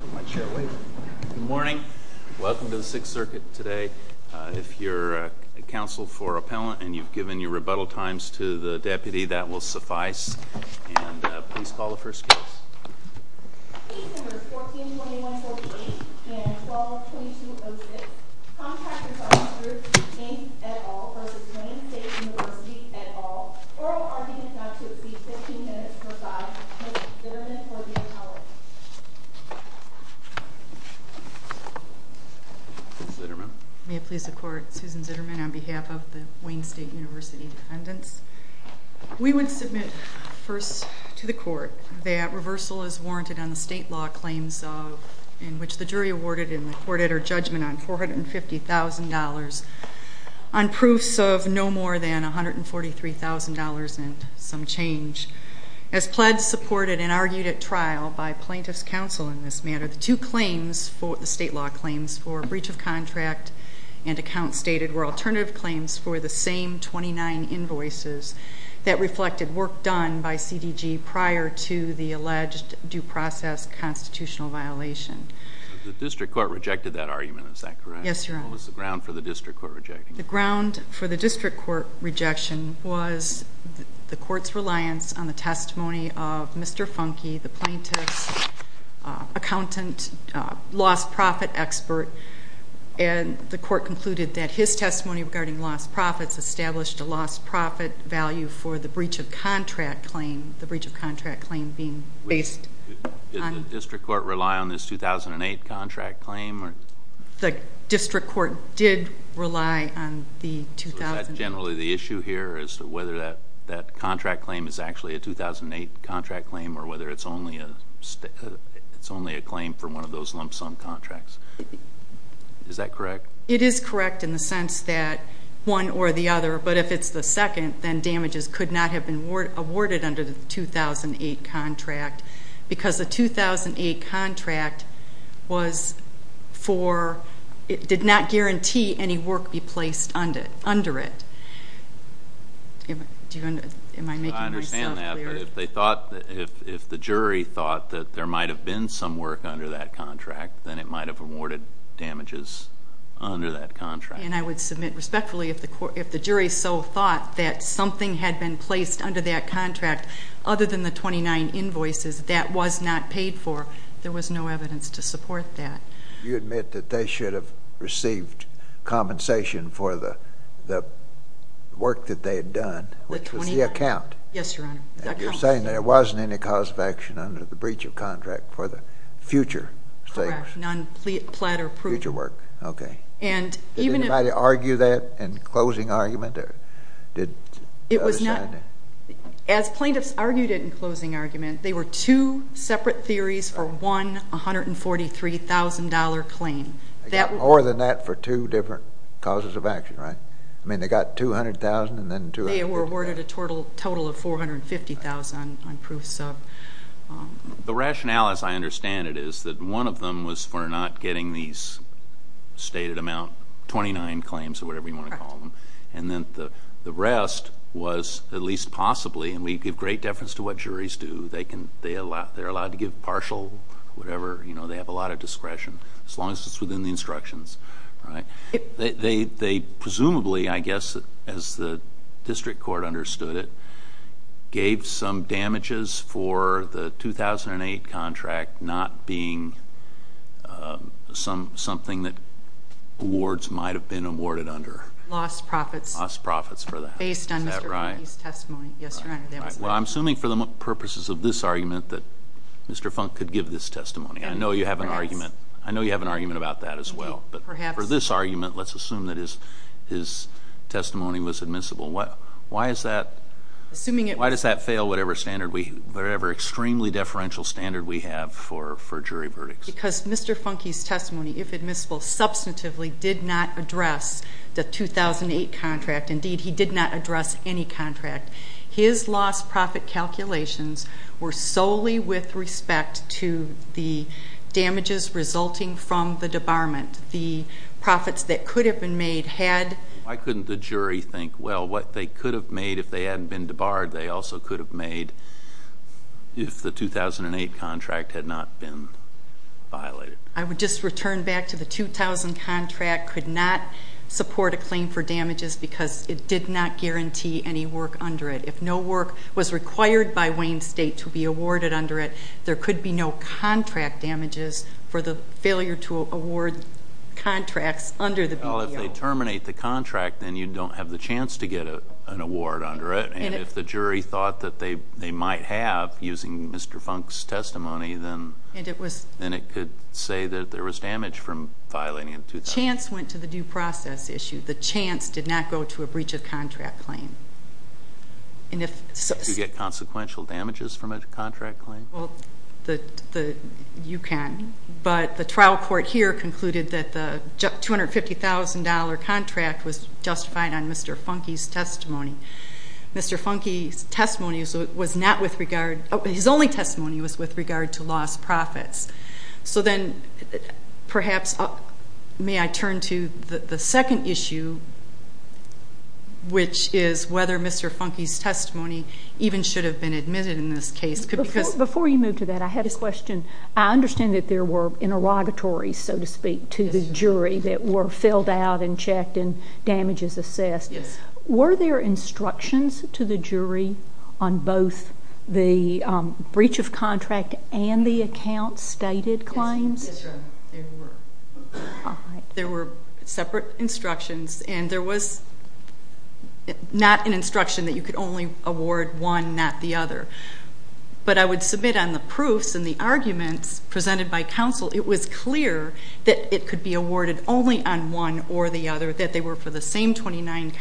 Good morning. Welcome to the Sixth Circuit today. If you're counsel for appellant and you've given your rebuttal times to the deputy, that will suffice. Please call the first case. Susan Zitterman May it please the Court, Susan Zitterman on behalf of the Wayne State University Defendants. We would submit first to the Court that reversal is warranted on the state law claims in which the jury awarded in the court-editor judgment on $450,000 on proofs of no more than $143,000 and some change. As pledged, supported, and argued at trial by plaintiffs' counsel in this matter, the court is now in session. The two claims, the state law claims, for breach of contract and account stated were alternative claims for the same 29 invoices that reflected work done by CDG prior to the alleged due process constitutional violation. The district court rejected that argument, is that correct? Yes, Your Honor. What was the ground for the district court rejecting it? The ground for the district court rejection was the court's reliance on the testimony of Mr. Funke, the plaintiff's accountant, lost profit expert, and the court concluded that his testimony regarding lost profits established a lost profit value for the breach of contract claim, the breach of contract claim being based on... Did the district court rely on this 2008 contract claim? The district court did rely on the... So is that generally the issue here as to whether that contract claim is actually a 2008 contract claim or whether it's only a claim for one of those lump sum contracts? Is that correct? It is correct in the sense that one or the other, but if it's the second, then damages could not have been awarded under the 2008 contract because the 2008 contract was for... It did not guarantee any work be placed under it. Am I making myself clear? I understand that, but if the jury thought that there might have been some work under that contract, then it might have awarded damages under that contract. And I would submit respectfully if the jury so thought that something had been placed under that contract other than the 29 invoices, that was not paid for, there was no evidence to support that. You admit that they should have received compensation for the work that they had done, which was the account. Yes, Your Honor. And you're saying that there wasn't any cause of action under the breach of contract for the future... Correct. Non-platter proof. Future work. Okay. And even if... Did anybody argue that in closing argument? It was not... They got more than that for two different causes of action, right? I mean, they got $200,000 and then... They were awarded a total of $450,000 on proofs of... The rationale, as I understand it, is that one of them was for not getting these stated amount, 29 claims or whatever you want to call them. Correct. And then the rest was, at least possibly, and we give great deference to what juries do. They're allowed to give partial whatever, you know, they have a lot of discretion, as long as it's within the instructions, right? They presumably, I guess, as the district court understood it, gave some damages for the 2008 contract not being something that awards might have been awarded under. Lost profits. Lost profits for the... Based on Mr. Funke's testimony. Is that right? Yes, Your Honor, that was... Well, I'm assuming for the purposes of this argument that Mr. Funke could give this testimony. I know you have an argument... Perhaps. I know you have an argument about that as well. Perhaps. But for this argument, let's assume that his testimony was admissible. Why is that... Assuming it... Why does that fail whatever standard we... whatever extremely deferential standard we have for jury verdicts? Because Mr. Funke's testimony, if admissible, substantively did not address the 2008 contract. Indeed, he did not address any contract. His lost profit calculations were solely with respect to the damages resulting from the debarment. The profits that could have been made had... Why couldn't the jury think, well, what they could have made if they hadn't been debarred, they also could have made if the 2008 contract had not been violated? I would just return back to the 2000 contract could not support a claim for damages because it did not guarantee any work under it. If no work was required by Wayne State to be awarded under it, there could be no contract damages for the failure to award contracts under the BPO. Well, if they terminate the contract, then you don't have the chance to get an award under it. And if the jury thought that they might have using Mr. Funke's testimony, then... And it was... Then it could say that there was damage from violating the 2000... Chance went to the due process issue. The chance did not go to a breach of contract claim. And if... Did you get consequential damages from a contract claim? Well, you can. But the trial court here concluded that the $250,000 contract was justified on Mr. Funke's testimony. Mr. Funke's testimony was not with regard... His only testimony was with regard to lost profits. So then, perhaps, may I turn to the second issue, which is whether Mr. Funke's testimony even should have been admitted in this case. Before you move to that, I had a question. I understand that there were interrogatories, so to speak, to the jury that were filled out and checked and damages assessed. Yes. Were there instructions to the jury on both the breach of contract and the account stated claims? Yes. Yes, Your Honor. There were. All right. There were separate instructions, and there was not an instruction that you could only award one, not the other. But I would submit on the proofs and the arguments presented by counsel, it was clear that it could be awarded only on one or the other, that they were for the same 29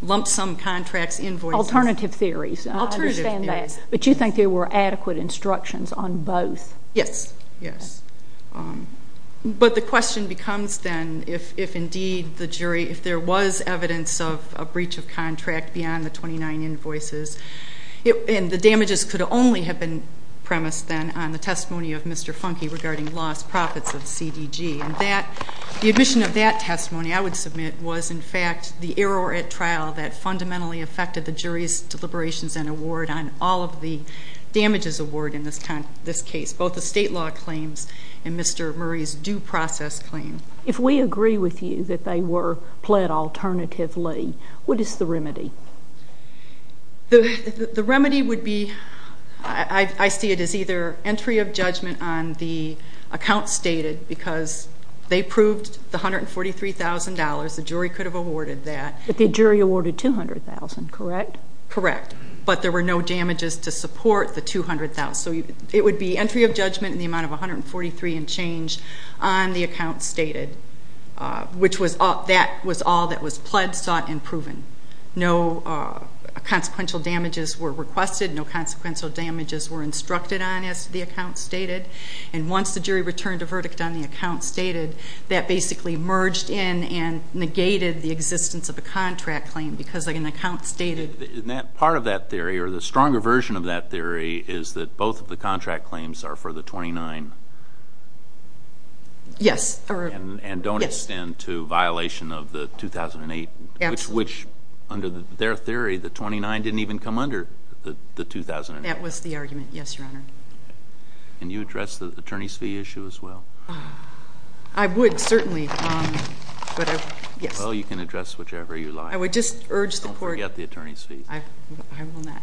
lump sum contracts invoices. Alternative theories. Alternative theories. I understand that. But you think there were adequate instructions on both? Yes. Yes. But the question becomes, then, if indeed the jury, if there was evidence of a breach of contract beyond the 29 invoices, and the damages could only have been premised, then, on the testimony of Mr. Funke regarding lost profits of CDG, and the admission of that testimony, I would submit, was, in fact, the error at trial that fundamentally affected the jury's deliberations and award on all of the damages awarded in this case, both the state law claims and Mr. Murray's due process claim. If we agree with you that they were pled alternatively, what is the remedy? The remedy would be, I see it as either entry of judgment on the account stated, because they proved the $143,000. The jury could have awarded that. But the jury awarded $200,000, correct? Correct. But there were no damages to support the $200,000. So it would be entry of judgment in the amount of $143,000 and change on the account stated, which was all that was pled, sought, and proven. No consequential damages were requested. No consequential damages were instructed on, as the account stated. And once the jury returned a verdict on the account stated, that basically merged in and negated the existence of a contract claim, because an account stated. And part of that theory, or the stronger version of that theory, is that both of the contract claims are for the 29? Yes. And don't extend to violation of the 2008, which under their theory, the 29 didn't even come under the 2008. That was the argument. Yes, Your Honor. Can you address the attorney's fee issue as well? I would, certainly. Well, you can address whichever you like. I would just urge the court. Don't forget the attorney's fees. I will not.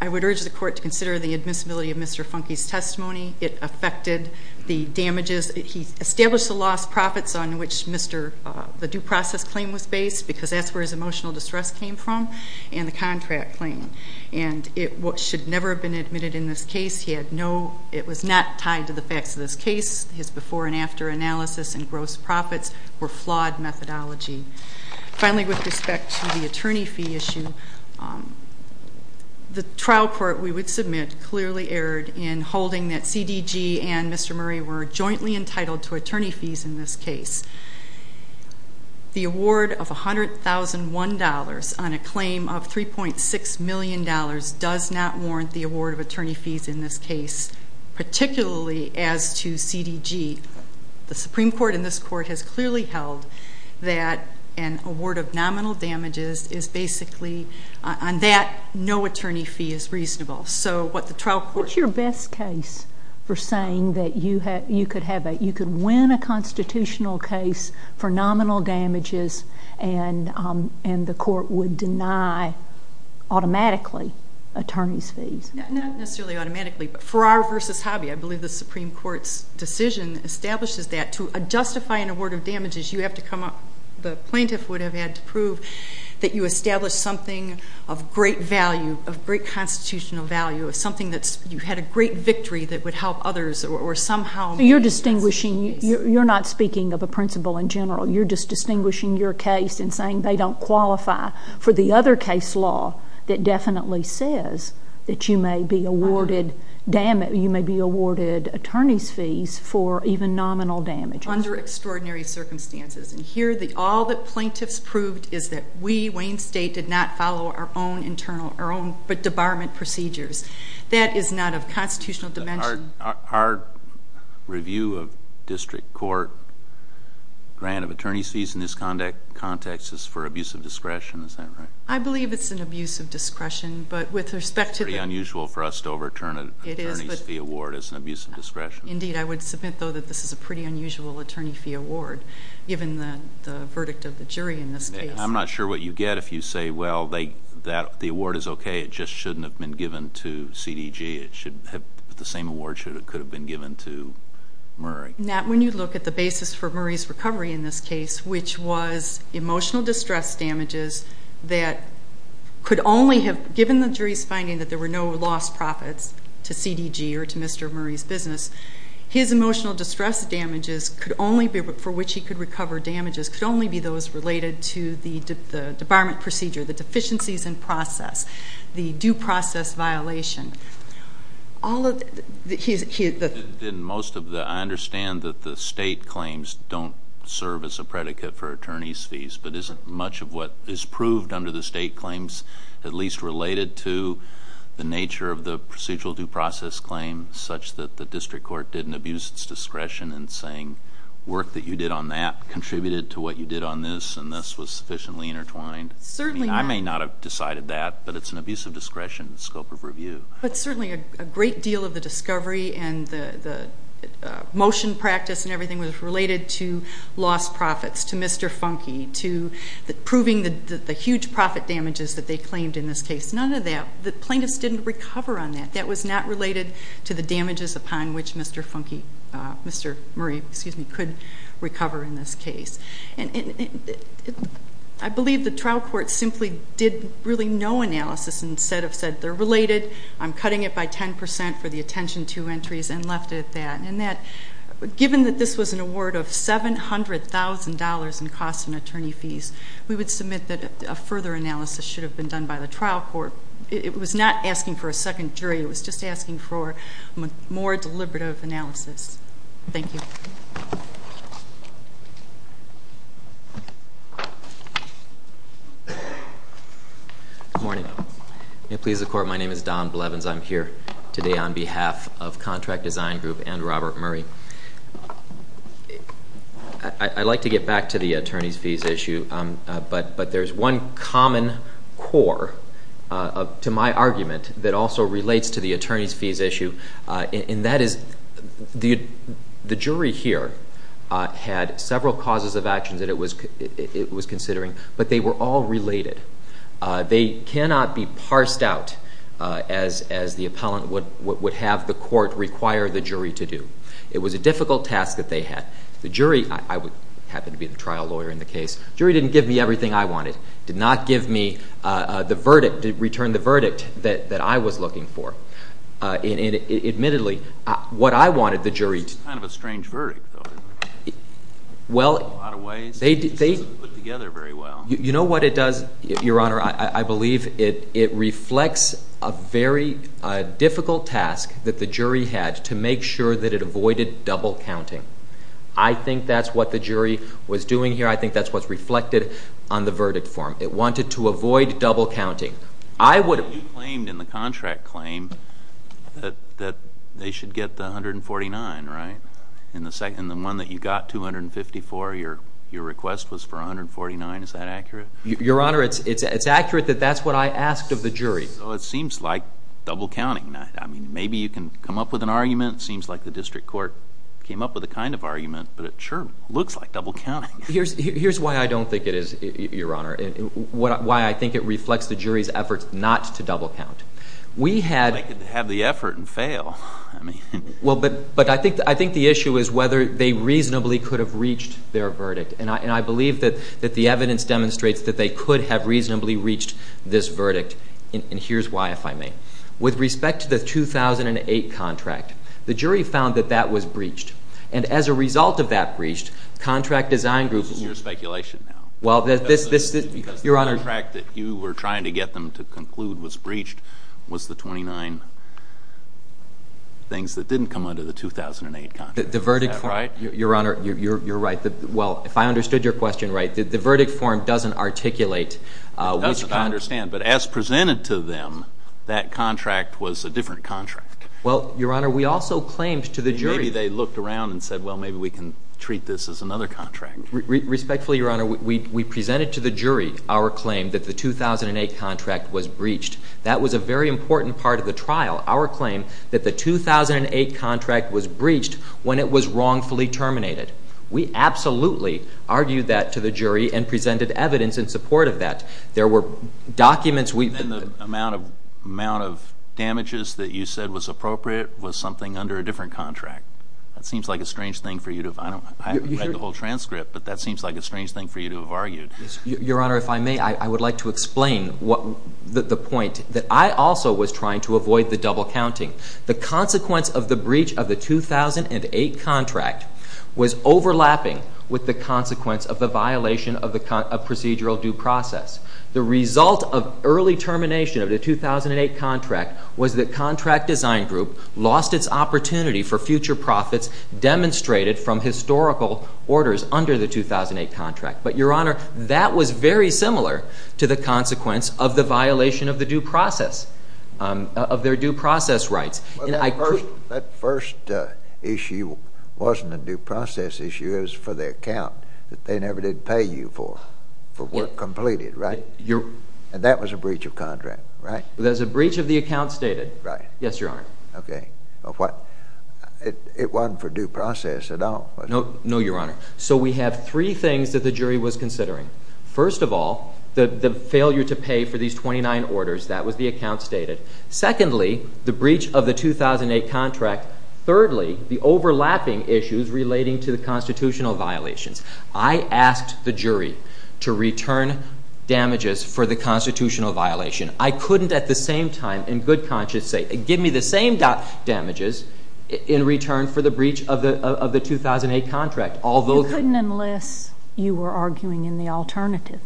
I would urge the court to consider the admissibility of Mr. Funke's testimony. It affected the damages. He established the lost profits on which the due process claim was based, because that's where his emotional distress came from, and the contract claim. And it should never have been admitted in this case. It was not tied to the facts of this case. His before and after analysis and gross profits were flawed methodology. Finally, with respect to the attorney fee issue, the trial court, we would submit, in holding that CDG and Mr. Murray were jointly entitled to attorney fees in this case. The award of $100,001 on a claim of $3.6 million does not warrant the award of attorney fees in this case, particularly as to CDG. The Supreme Court in this court has clearly held that an award of nominal damages is basically, on that, no attorney fee is reasonable. What's your best case for saying that you could win a constitutional case for nominal damages and the court would deny, automatically, attorney's fees? Not necessarily automatically, but for our versus hobby, I believe the Supreme Court's decision establishes that to justify an award of damages, you have to come up, the plaintiff would have had to prove, that you established something of great value, of great constitutional value, of something that's, you had a great victory that would help others or somehow. You're distinguishing, you're not speaking of a principle in general. You're just distinguishing your case and saying they don't qualify for the other case law that definitely says that you may be awarded, you may be awarded attorney's fees for even nominal damages. Under extraordinary circumstances. And here, all that plaintiffs proved is that we, Wayne State, did not follow our own internal, our own debarment procedures. That is not of constitutional dimension. Our review of district court grant of attorney's fees in this context is for abuse of discretion. Is that right? I believe it's an abuse of discretion, but with respect to the... It's pretty unusual for us to overturn an attorney's fee award as an abuse of discretion. Indeed. I would submit, though, that this is a pretty unusual attorney fee award, given the verdict of the jury in this case. I'm not sure what you get if you say, well, the award is okay. It just shouldn't have been given to CDG. It should have, the same award could have been given to Murray. Now, when you look at the basis for Murray's recovery in this case, which was emotional distress damages that could only have, given the jury's finding that there were no lost profits to CDG or to Mr. Murray's business, his emotional distress damages could only be, for which he could recover damages, could only be those related to the debarment procedure, the deficiencies in process, the due process violation. All of the... I understand that the state claims don't serve as a predicate for attorney's fees, but isn't much of what is proved under the state claims at least related to the nature of the procedural due process claim, such that the district court didn't abuse its discretion in saying, work that you did on that contributed to what you did on this, and this was sufficiently intertwined. Certainly not. I mean, I may not have decided that, but it's an abuse of discretion in the scope of review. But certainly a great deal of the discovery and the motion practice and everything was related to lost profits, to Mr. Funke, to proving the huge profit damages that they claimed in this case. None of that. The plaintiffs didn't recover on that. That was not related to the damages upon which Mr. Funke, Mr. Murray, excuse me, could recover in this case. And I believe the trial court simply did really no analysis, instead of said, they're related, I'm cutting it by 10% for the attention to entries, and left it at that. Given that this was an award of $700,000 in cost and attorney fees, we would submit that a further analysis should have been done by the trial court. It was not asking for a second jury. It was just asking for more deliberative analysis. Thank you. Good morning. May it please the court, my name is Don Blevins. I'm here today on behalf of Contract Design Group and Robert Murray. I'd like to get back to the attorney's fees issue, but there's one common core to my argument that also relates to the attorney's fees issue, and that is the jury here had several causes of actions that it was considering, but they were all related. They cannot be parsed out as the appellant would have the court require the jury to do. It was a difficult task that they had. The jury, I happen to be the trial lawyer in the case, jury didn't give me everything I wanted, did not give me the verdict, return the verdict that I was looking for. Admittedly, what I wanted the jury to- It's kind of a strange verdict, though, isn't it? Well- In a lot of ways, it doesn't put together very well. You know what it does, Your Honor? I believe it reflects a very difficult task that the jury had to make sure that it avoided double counting. I think that's what the jury was doing here. I think that's what's reflected on the verdict form. It wanted to avoid double counting. I would- You claimed in the contract claim that they should get the $149, right? In the one that you got, $254, your request was for $149. Is that accurate? Your Honor, it's accurate that that's what I asked of the jury. Well, it seems like double counting. I mean, maybe you can come up with an argument. It seems like the district court came up with a kind of argument, but it sure looks like double counting. Here's why I don't think it is, Your Honor, why I think it reflects the jury's efforts not to double count. We had- They could have the effort and fail. Well, but I think the issue is whether they reasonably could have reached their verdict. And I believe that the evidence demonstrates that they could have reasonably reached this verdict. And here's why, if I may. With respect to the 2008 contract, the jury found that that was breached. And as a result of that breach, contract design group- This is your speculation now. Well, this- Because the contract that you were trying to get them to conclude was breached was the 29. Things that didn't come under the 2008 contract. Is that right? Your Honor, you're right. Well, if I understood your question right, the verdict form doesn't articulate- It doesn't. I understand. But as presented to them, that contract was a different contract. Well, Your Honor, we also claimed to the jury- Maybe they looked around and said, well, maybe we can treat this as another contract. That was a very important part of the trial. Our claim that the 2008 contract was breached when it was wrongfully terminated. We absolutely argued that to the jury and presented evidence in support of that. There were documents- And the amount of damages that you said was appropriate was something under a different contract. That seems like a strange thing for you to- I read the whole transcript, but that seems like a strange thing for you to have argued. Your Honor, if I may, I would like to explain the point that I also was trying to avoid the double counting. The consequence of the breach of the 2008 contract was overlapping with the consequence of the violation of procedural due process. The result of early termination of the 2008 contract was the contract design group lost its opportunity for future profits demonstrated from historical orders under the 2008 contract. But, Your Honor, that was very similar to the consequence of the violation of the due process, of their due process rights. That first issue wasn't a due process issue. It was for the account that they never did pay you for, for work completed, right? And that was a breach of contract, right? That was a breach of the account stated. Right. Yes, Your Honor. Okay. It wasn't for due process at all, was it? No, Your Honor. So we have three things that the jury was considering. First of all, the failure to pay for these 29 orders, that was the account stated. Secondly, the breach of the 2008 contract. Thirdly, the overlapping issues relating to the constitutional violations. I asked the jury to return damages for the constitutional violation. I couldn't at the same time in good conscience say, give me the same damages in return for the breach of the 2008 contract. You couldn't unless you were arguing in the alternative.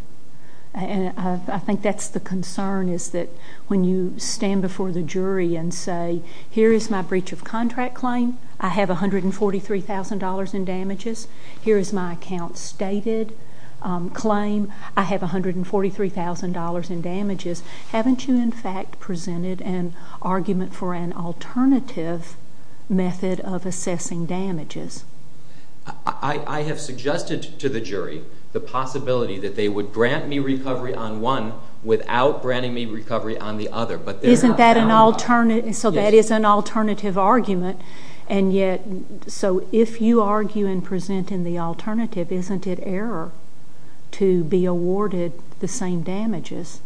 And I think that's the concern is that when you stand before the jury and say, here is my breach of contract claim. I have $143,000 in damages. Here is my account stated claim. I have $143,000 in damages. Haven't you, in fact, presented an argument for an alternative method of assessing damages? I have suggested to the jury the possibility that they would grant me recovery on one without granting me recovery on the other. Isn't that an alternative? So that is an alternative argument. And yet, so if you argue in presenting the alternative, isn't it error to be awarded the same damages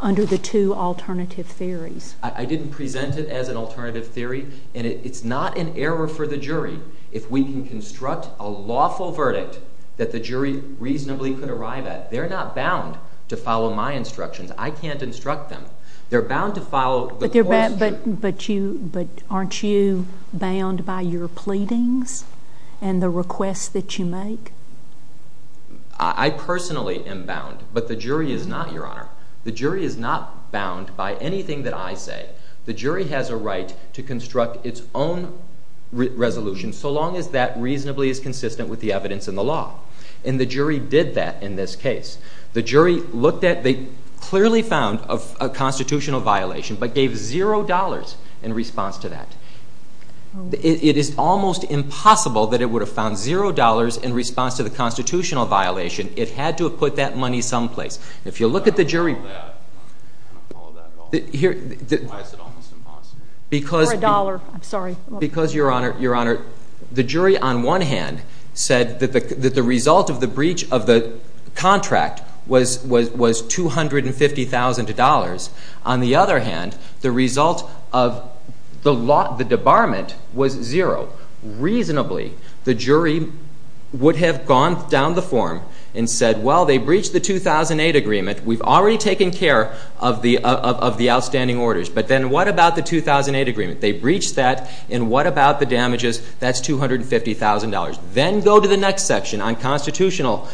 under the two alternative theories? I didn't present it as an alternative theory. And it's not an error for the jury if we can construct a lawful verdict that the jury reasonably could arrive at. They're not bound to follow my instructions. I can't instruct them. They're bound to follow the court's jury. But aren't you bound by your pleadings and the requests that you make? I personally am bound. But the jury is not, Your Honor. The jury is not bound by anything that I say. The jury has a right to construct its own resolution so long as that reasonably is consistent with the evidence in the law. And the jury did that in this case. The jury looked at, they clearly found a constitutional violation but gave $0 in response to that. It is almost impossible that it would have found $0 in response to the constitutional violation. It had to have put that money someplace. If you look at the jury. I don't follow that. I don't follow that at all. Why is it almost impossible? For a dollar. I'm sorry. Because, Your Honor, the jury on one hand said that the result of the breach of the contract was $250,000. On the other hand, the result of the debarment was $0. Reasonably, the jury would have gone down the form and said, well, they breached the 2008 agreement. We've already taken care of the outstanding orders. But then what about the 2008 agreement? They breached that. And what about the damages? That's $250,000. Then go to the next section on constitutional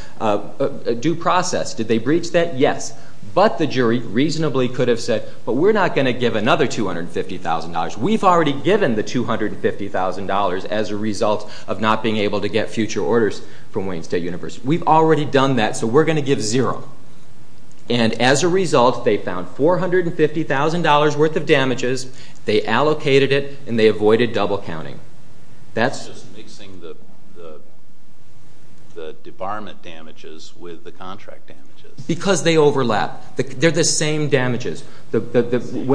due process. Did they breach that? Yes. But the jury reasonably could have said, but we're not going to give another $250,000. We've already given the $250,000 as a result of not being able to get future orders from Wayne State University. We've already done that, so we're going to give $0. And as a result, they found $450,000 worth of damages. They allocated it, and they avoided double counting. That's just mixing the debarment damages with the contract damages. Because they overlap. They're the same damages. Violating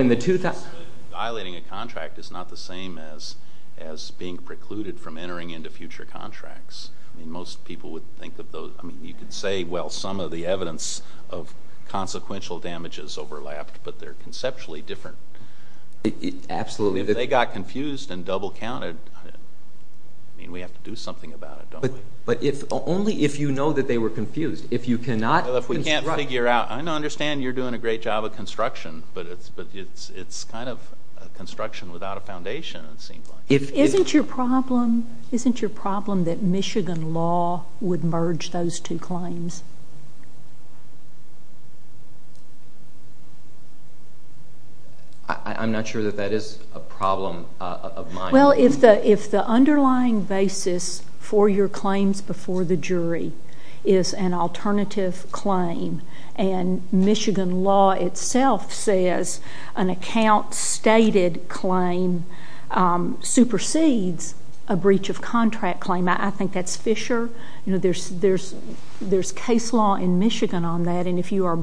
a contract is not the same as being precluded from entering into future contracts. I mean, most people would think of those. I mean, you could say, well, some of the evidence of consequential damages overlapped, but they're conceptually different. Absolutely. If they got confused and double counted, I mean, we have to do something about it, don't we? But only if you know that they were confused. If you cannot construct. Well, if we can't figure out. I understand you're doing a great job of construction, but it's kind of construction without a foundation, it seems like. Isn't your problem that Michigan law would merge those two claims? I'm not sure that that is a problem of mine. Well, if the underlying basis for your claims before the jury is an alternative claim, and Michigan law itself says an account-stated claim supersedes a breach of contract claim, I think that's Fisher. There's case law in Michigan on that, and if you are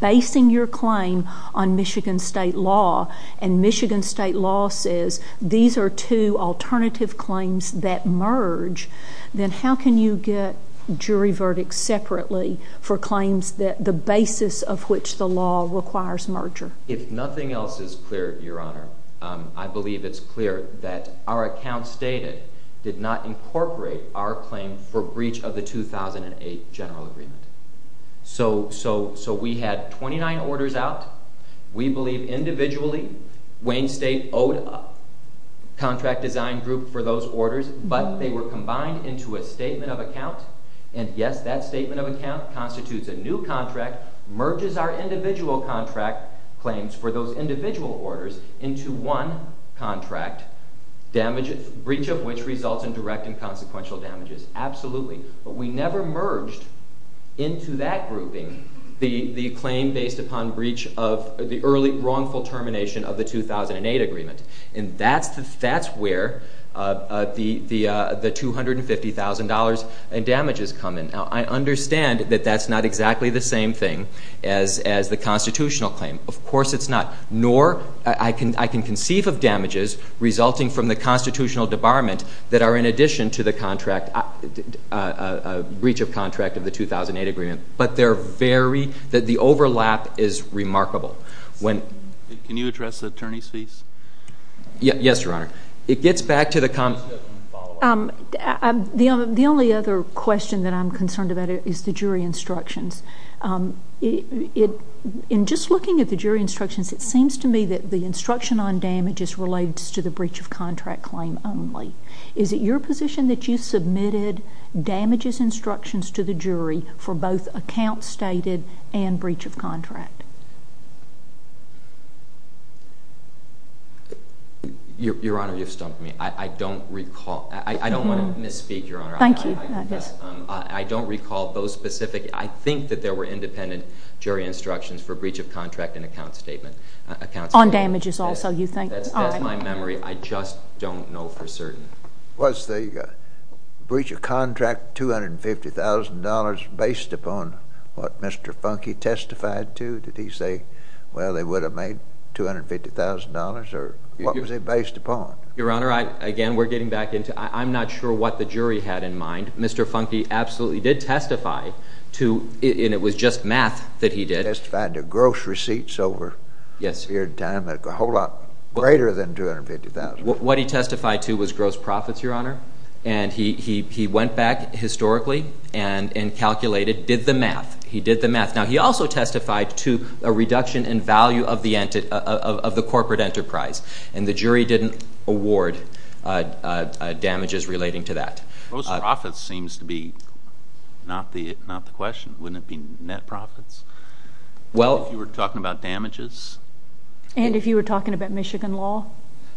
basing your claim on Michigan state law, and Michigan state law says these are two alternative claims that merge, then how can you get jury verdicts separately for claims that the basis of which the law requires merger? If nothing else is clear, Your Honor, I believe it's clear that our account-stated did not incorporate our claim for breach of the 2008 general agreement. So we had 29 orders out. We believe individually Wayne State owed a contract design group for those orders, but they were combined into a statement of account, and yes, that statement of account constitutes a new contract, merges our individual contract claims for those individual orders into one contract, breach of which results in direct and consequential damages. Absolutely. But we never merged into that grouping the claim based upon breach of the early wrongful termination of the 2008 agreement, and that's where the $250,000 in damages come in. Now, I understand that that's not exactly the same thing as the constitutional claim. Of course it's not. Nor I can conceive of damages resulting from the constitutional debarment that are in addition to the breach of contract of the 2008 agreement, but the overlap is remarkable. Can you address the attorney's fees? Yes, Your Honor. The only other question that I'm concerned about is the jury instructions. In just looking at the jury instructions, it seems to me that the instruction on damages relates to the breach of contract claim only. Is it your position that you submitted damages instructions to the jury for both account stated and breach of contract? Your Honor, you've stumped me. I don't recall. I don't want to misspeak, Your Honor. Thank you. I don't recall those specific. I think that there were independent jury instructions for breach of contract and account statement. On damages also, you think? That's my memory. I just don't know for certain. Was the breach of contract $250,000 based upon what Mr. Funke testified to? Did he say, well, they would have made $250,000, or what was it based upon? Your Honor, again, we're getting back into I'm not sure what the jury had in mind. Mr. Funke absolutely did testify to, and it was just math that he did. He testified to gross receipts over a period of time that were a whole lot greater than $250,000. What he testified to was gross profits, Your Honor, and he went back historically and calculated, did the math. He did the math. Now, he also testified to a reduction in value of the corporate enterprise. And the jury didn't award damages relating to that. Gross profits seems to be not the question. Wouldn't it be net profits if you were talking about damages? And if you were talking about Michigan law?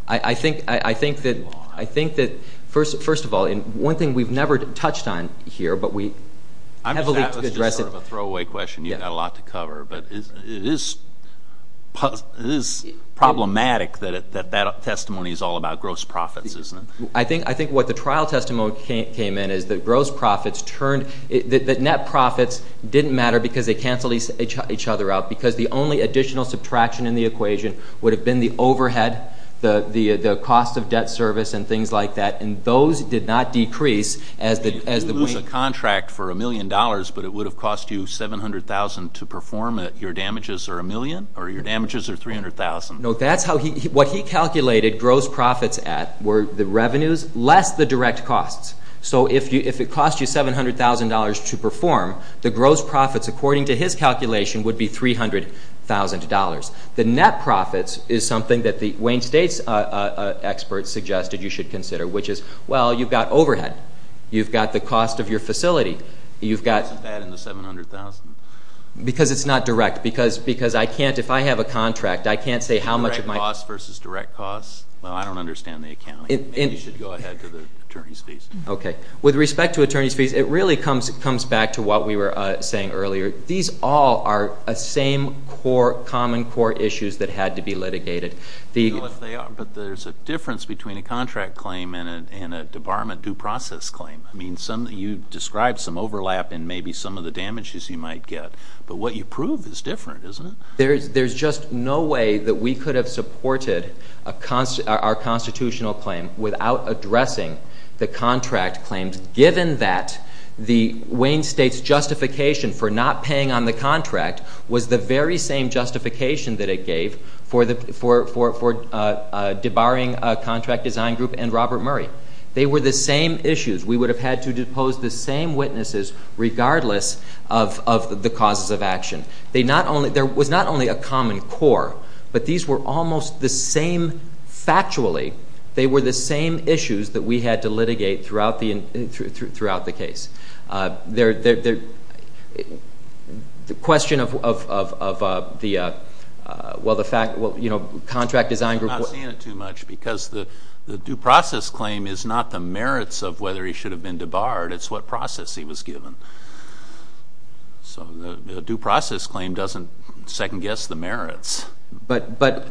I think that, first of all, one thing we've never touched on here, but we heavily address it. It's sort of a throwaway question. You've got a lot to cover. But it is problematic that that testimony is all about gross profits, isn't it? I think what the trial testimony came in is that gross profits turned – that net profits didn't matter because they canceled each other out because the only additional subtraction in the equation would have been the overhead, the cost of debt service and things like that. And those did not decrease as the – It would have cost you a contract for $1 million, but it would have cost you $700,000 to perform it. Your damages are $1 million? Or your damages are $300,000? No, that's how he – what he calculated gross profits at were the revenues less the direct costs. So if it cost you $700,000 to perform, the gross profits, according to his calculation, would be $300,000. The net profits is something that the Wayne State experts suggested you should consider, which is, well, you've got overhead. You've got the cost of your facility. You've got – Why isn't that in the $700,000? Because it's not direct. Because I can't – if I have a contract, I can't say how much of my – Direct costs versus direct costs? Well, I don't understand the accounting. Maybe you should go ahead to the attorney's fees. Okay. With respect to attorney's fees, it really comes back to what we were saying earlier. These all are the same common core issues that had to be litigated. But there's a difference between a contract claim and a debarment due process claim. I mean, you described some overlap in maybe some of the damages you might get. But what you prove is different, isn't it? There's just no way that we could have supported our constitutional claim without addressing the contract claims, given that the Wayne State's justification for not paying on the contract was the very same justification that it gave for debarring a contract design group and Robert Murray. They were the same issues. We would have had to depose the same witnesses regardless of the causes of action. There was not only a common core, but these were almost the same – throughout the case. The question of the contract design group – I'm not seeing it too much because the due process claim is not the merits of whether he should have been debarred. It's what process he was given. So the due process claim doesn't second-guess the merits. But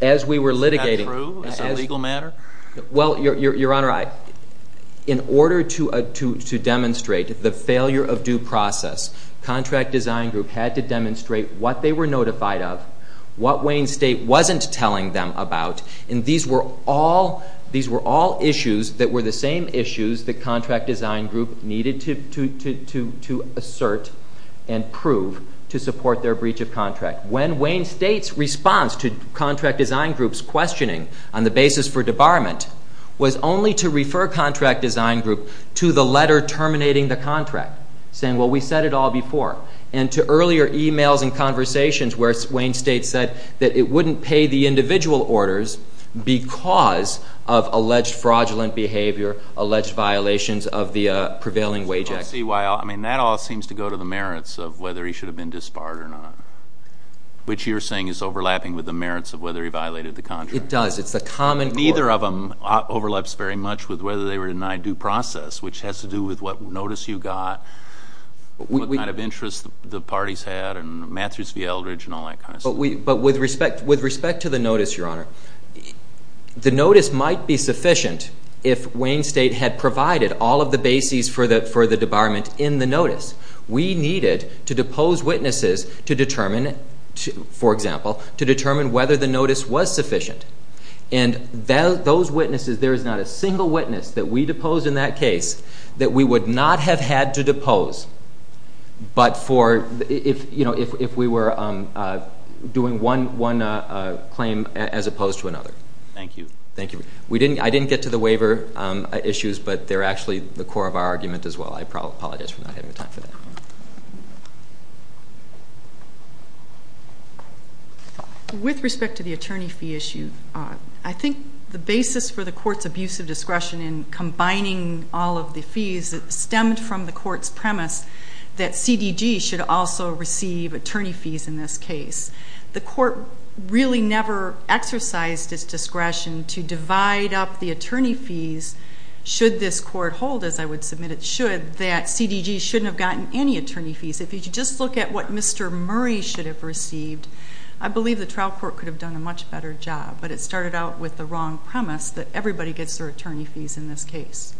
as we were litigating – Is that true as a legal matter? Well, Your Honor, in order to demonstrate the failure of due process, contract design group had to demonstrate what they were notified of, what Wayne State wasn't telling them about, and these were all issues that were the same issues the contract design group needed to assert and prove to support their breach of contract. When Wayne State's response to contract design group's questioning on the basis for debarment was only to refer contract design group to the letter terminating the contract, saying, well, we said it all before, and to earlier emails and conversations where Wayne State said that it wouldn't pay the individual orders because of alleged fraudulent behavior, alleged violations of the prevailing wage act. I don't see why – I mean, that all seems to go to the merits of whether he should have been disbarred or not, which you're saying is overlapping with the merits of whether he violated the contract. It does. It's the common core. Neither of them overlaps very much with whether they were denied due process, which has to do with what notice you got, what kind of interest the parties had, and Matthews v. Eldridge and all that kind of stuff. But with respect to the notice, Your Honor, the notice might be sufficient if Wayne State had provided all of the bases for the debarment in the notice. We needed to depose witnesses to determine, for example, to determine whether the notice was sufficient. And those witnesses, there is not a single witness that we deposed in that case that we would not have had to depose but for if we were doing one claim as opposed to another. Thank you. Thank you. I didn't get to the waiver issues, but they're actually the core of our argument as well. I apologize for not having the time for that. With respect to the attorney fee issue, I think the basis for the court's abuse of discretion in combining all of the fees stemmed from the court's premise that CDG should also receive attorney fees in this case. The court really never exercised its discretion to divide up the attorney fees should this court hold, as I would submit it should, that CDG shouldn't have gotten any attorney fees. If you just look at what Mr. Murray should have received, I believe the trial court could have done a much better job, but it started out with the wrong premise that everybody gets their attorney fees in this case.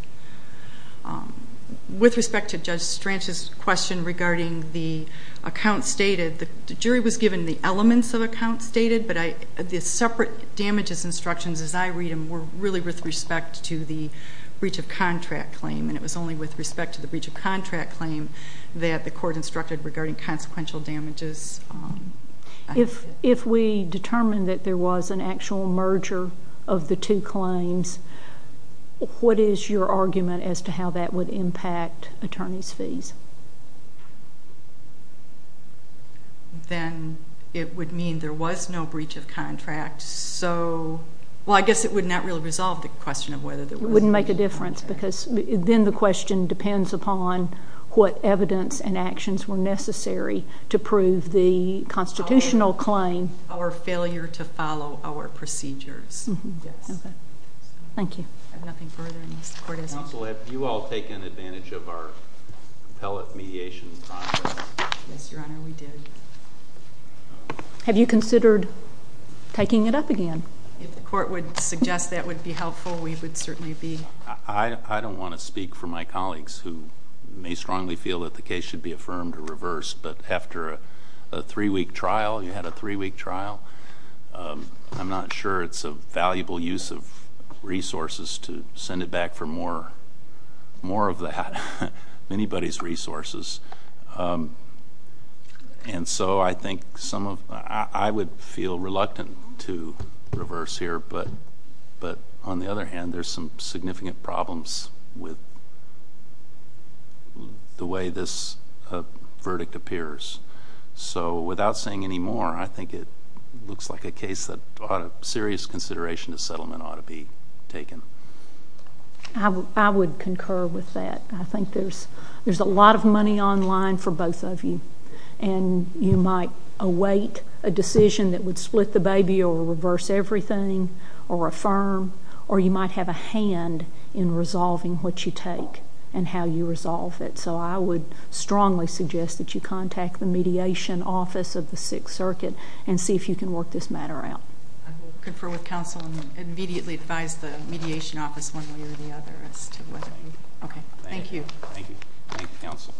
With respect to Judge Stranch's question regarding the account stated, the jury was given the elements of the account stated, but the separate damages instructions, as I read them, were really with respect to the breach of contract claim, and it was only with respect to the breach of contract claim that the court instructed regarding consequential damages. If we determined that there was an actual merger of the two claims, what is your argument as to how that would impact attorney's fees? Then it would mean there was no breach of contract, so, well, I guess it would not really resolve the question of whether there was a breach of contract. It wouldn't make a difference because then the question depends upon what evidence and actions were necessary to prove the constitutional claim. Our failure to follow our procedures. Yes. Okay. Thank you. I have nothing further unless the court has more. Counsel, have you all taken advantage of our appellate mediation process? Yes, Your Honor, we did. Have you considered taking it up again? If the court would suggest that would be helpful, we would certainly be. I don't want to speak for my colleagues who may strongly feel that the case should be affirmed or reversed, but after a three-week trial, you had a three-week trial, I'm not sure it's a valuable use of resources to send it back for more of that, anybody's resources. And so I think some of, I would feel reluctant to reverse here, but on the other hand, there's some significant problems with the way this verdict appears. So without saying any more, I think it looks like a case that serious consideration of settlement ought to be taken. I would concur with that. I think there's a lot of money online for both of you, and you might await a decision that would split the baby or reverse everything or affirm, or you might have a hand in resolving what you take and how you resolve it. So I would strongly suggest that you contact the Mediation Office of the Sixth Circuit and see if you can work this matter out. I will confer with counsel and immediately advise the Mediation Office one way or the other as to whether. Okay. Thank you. Thank you. Thank you, counsel.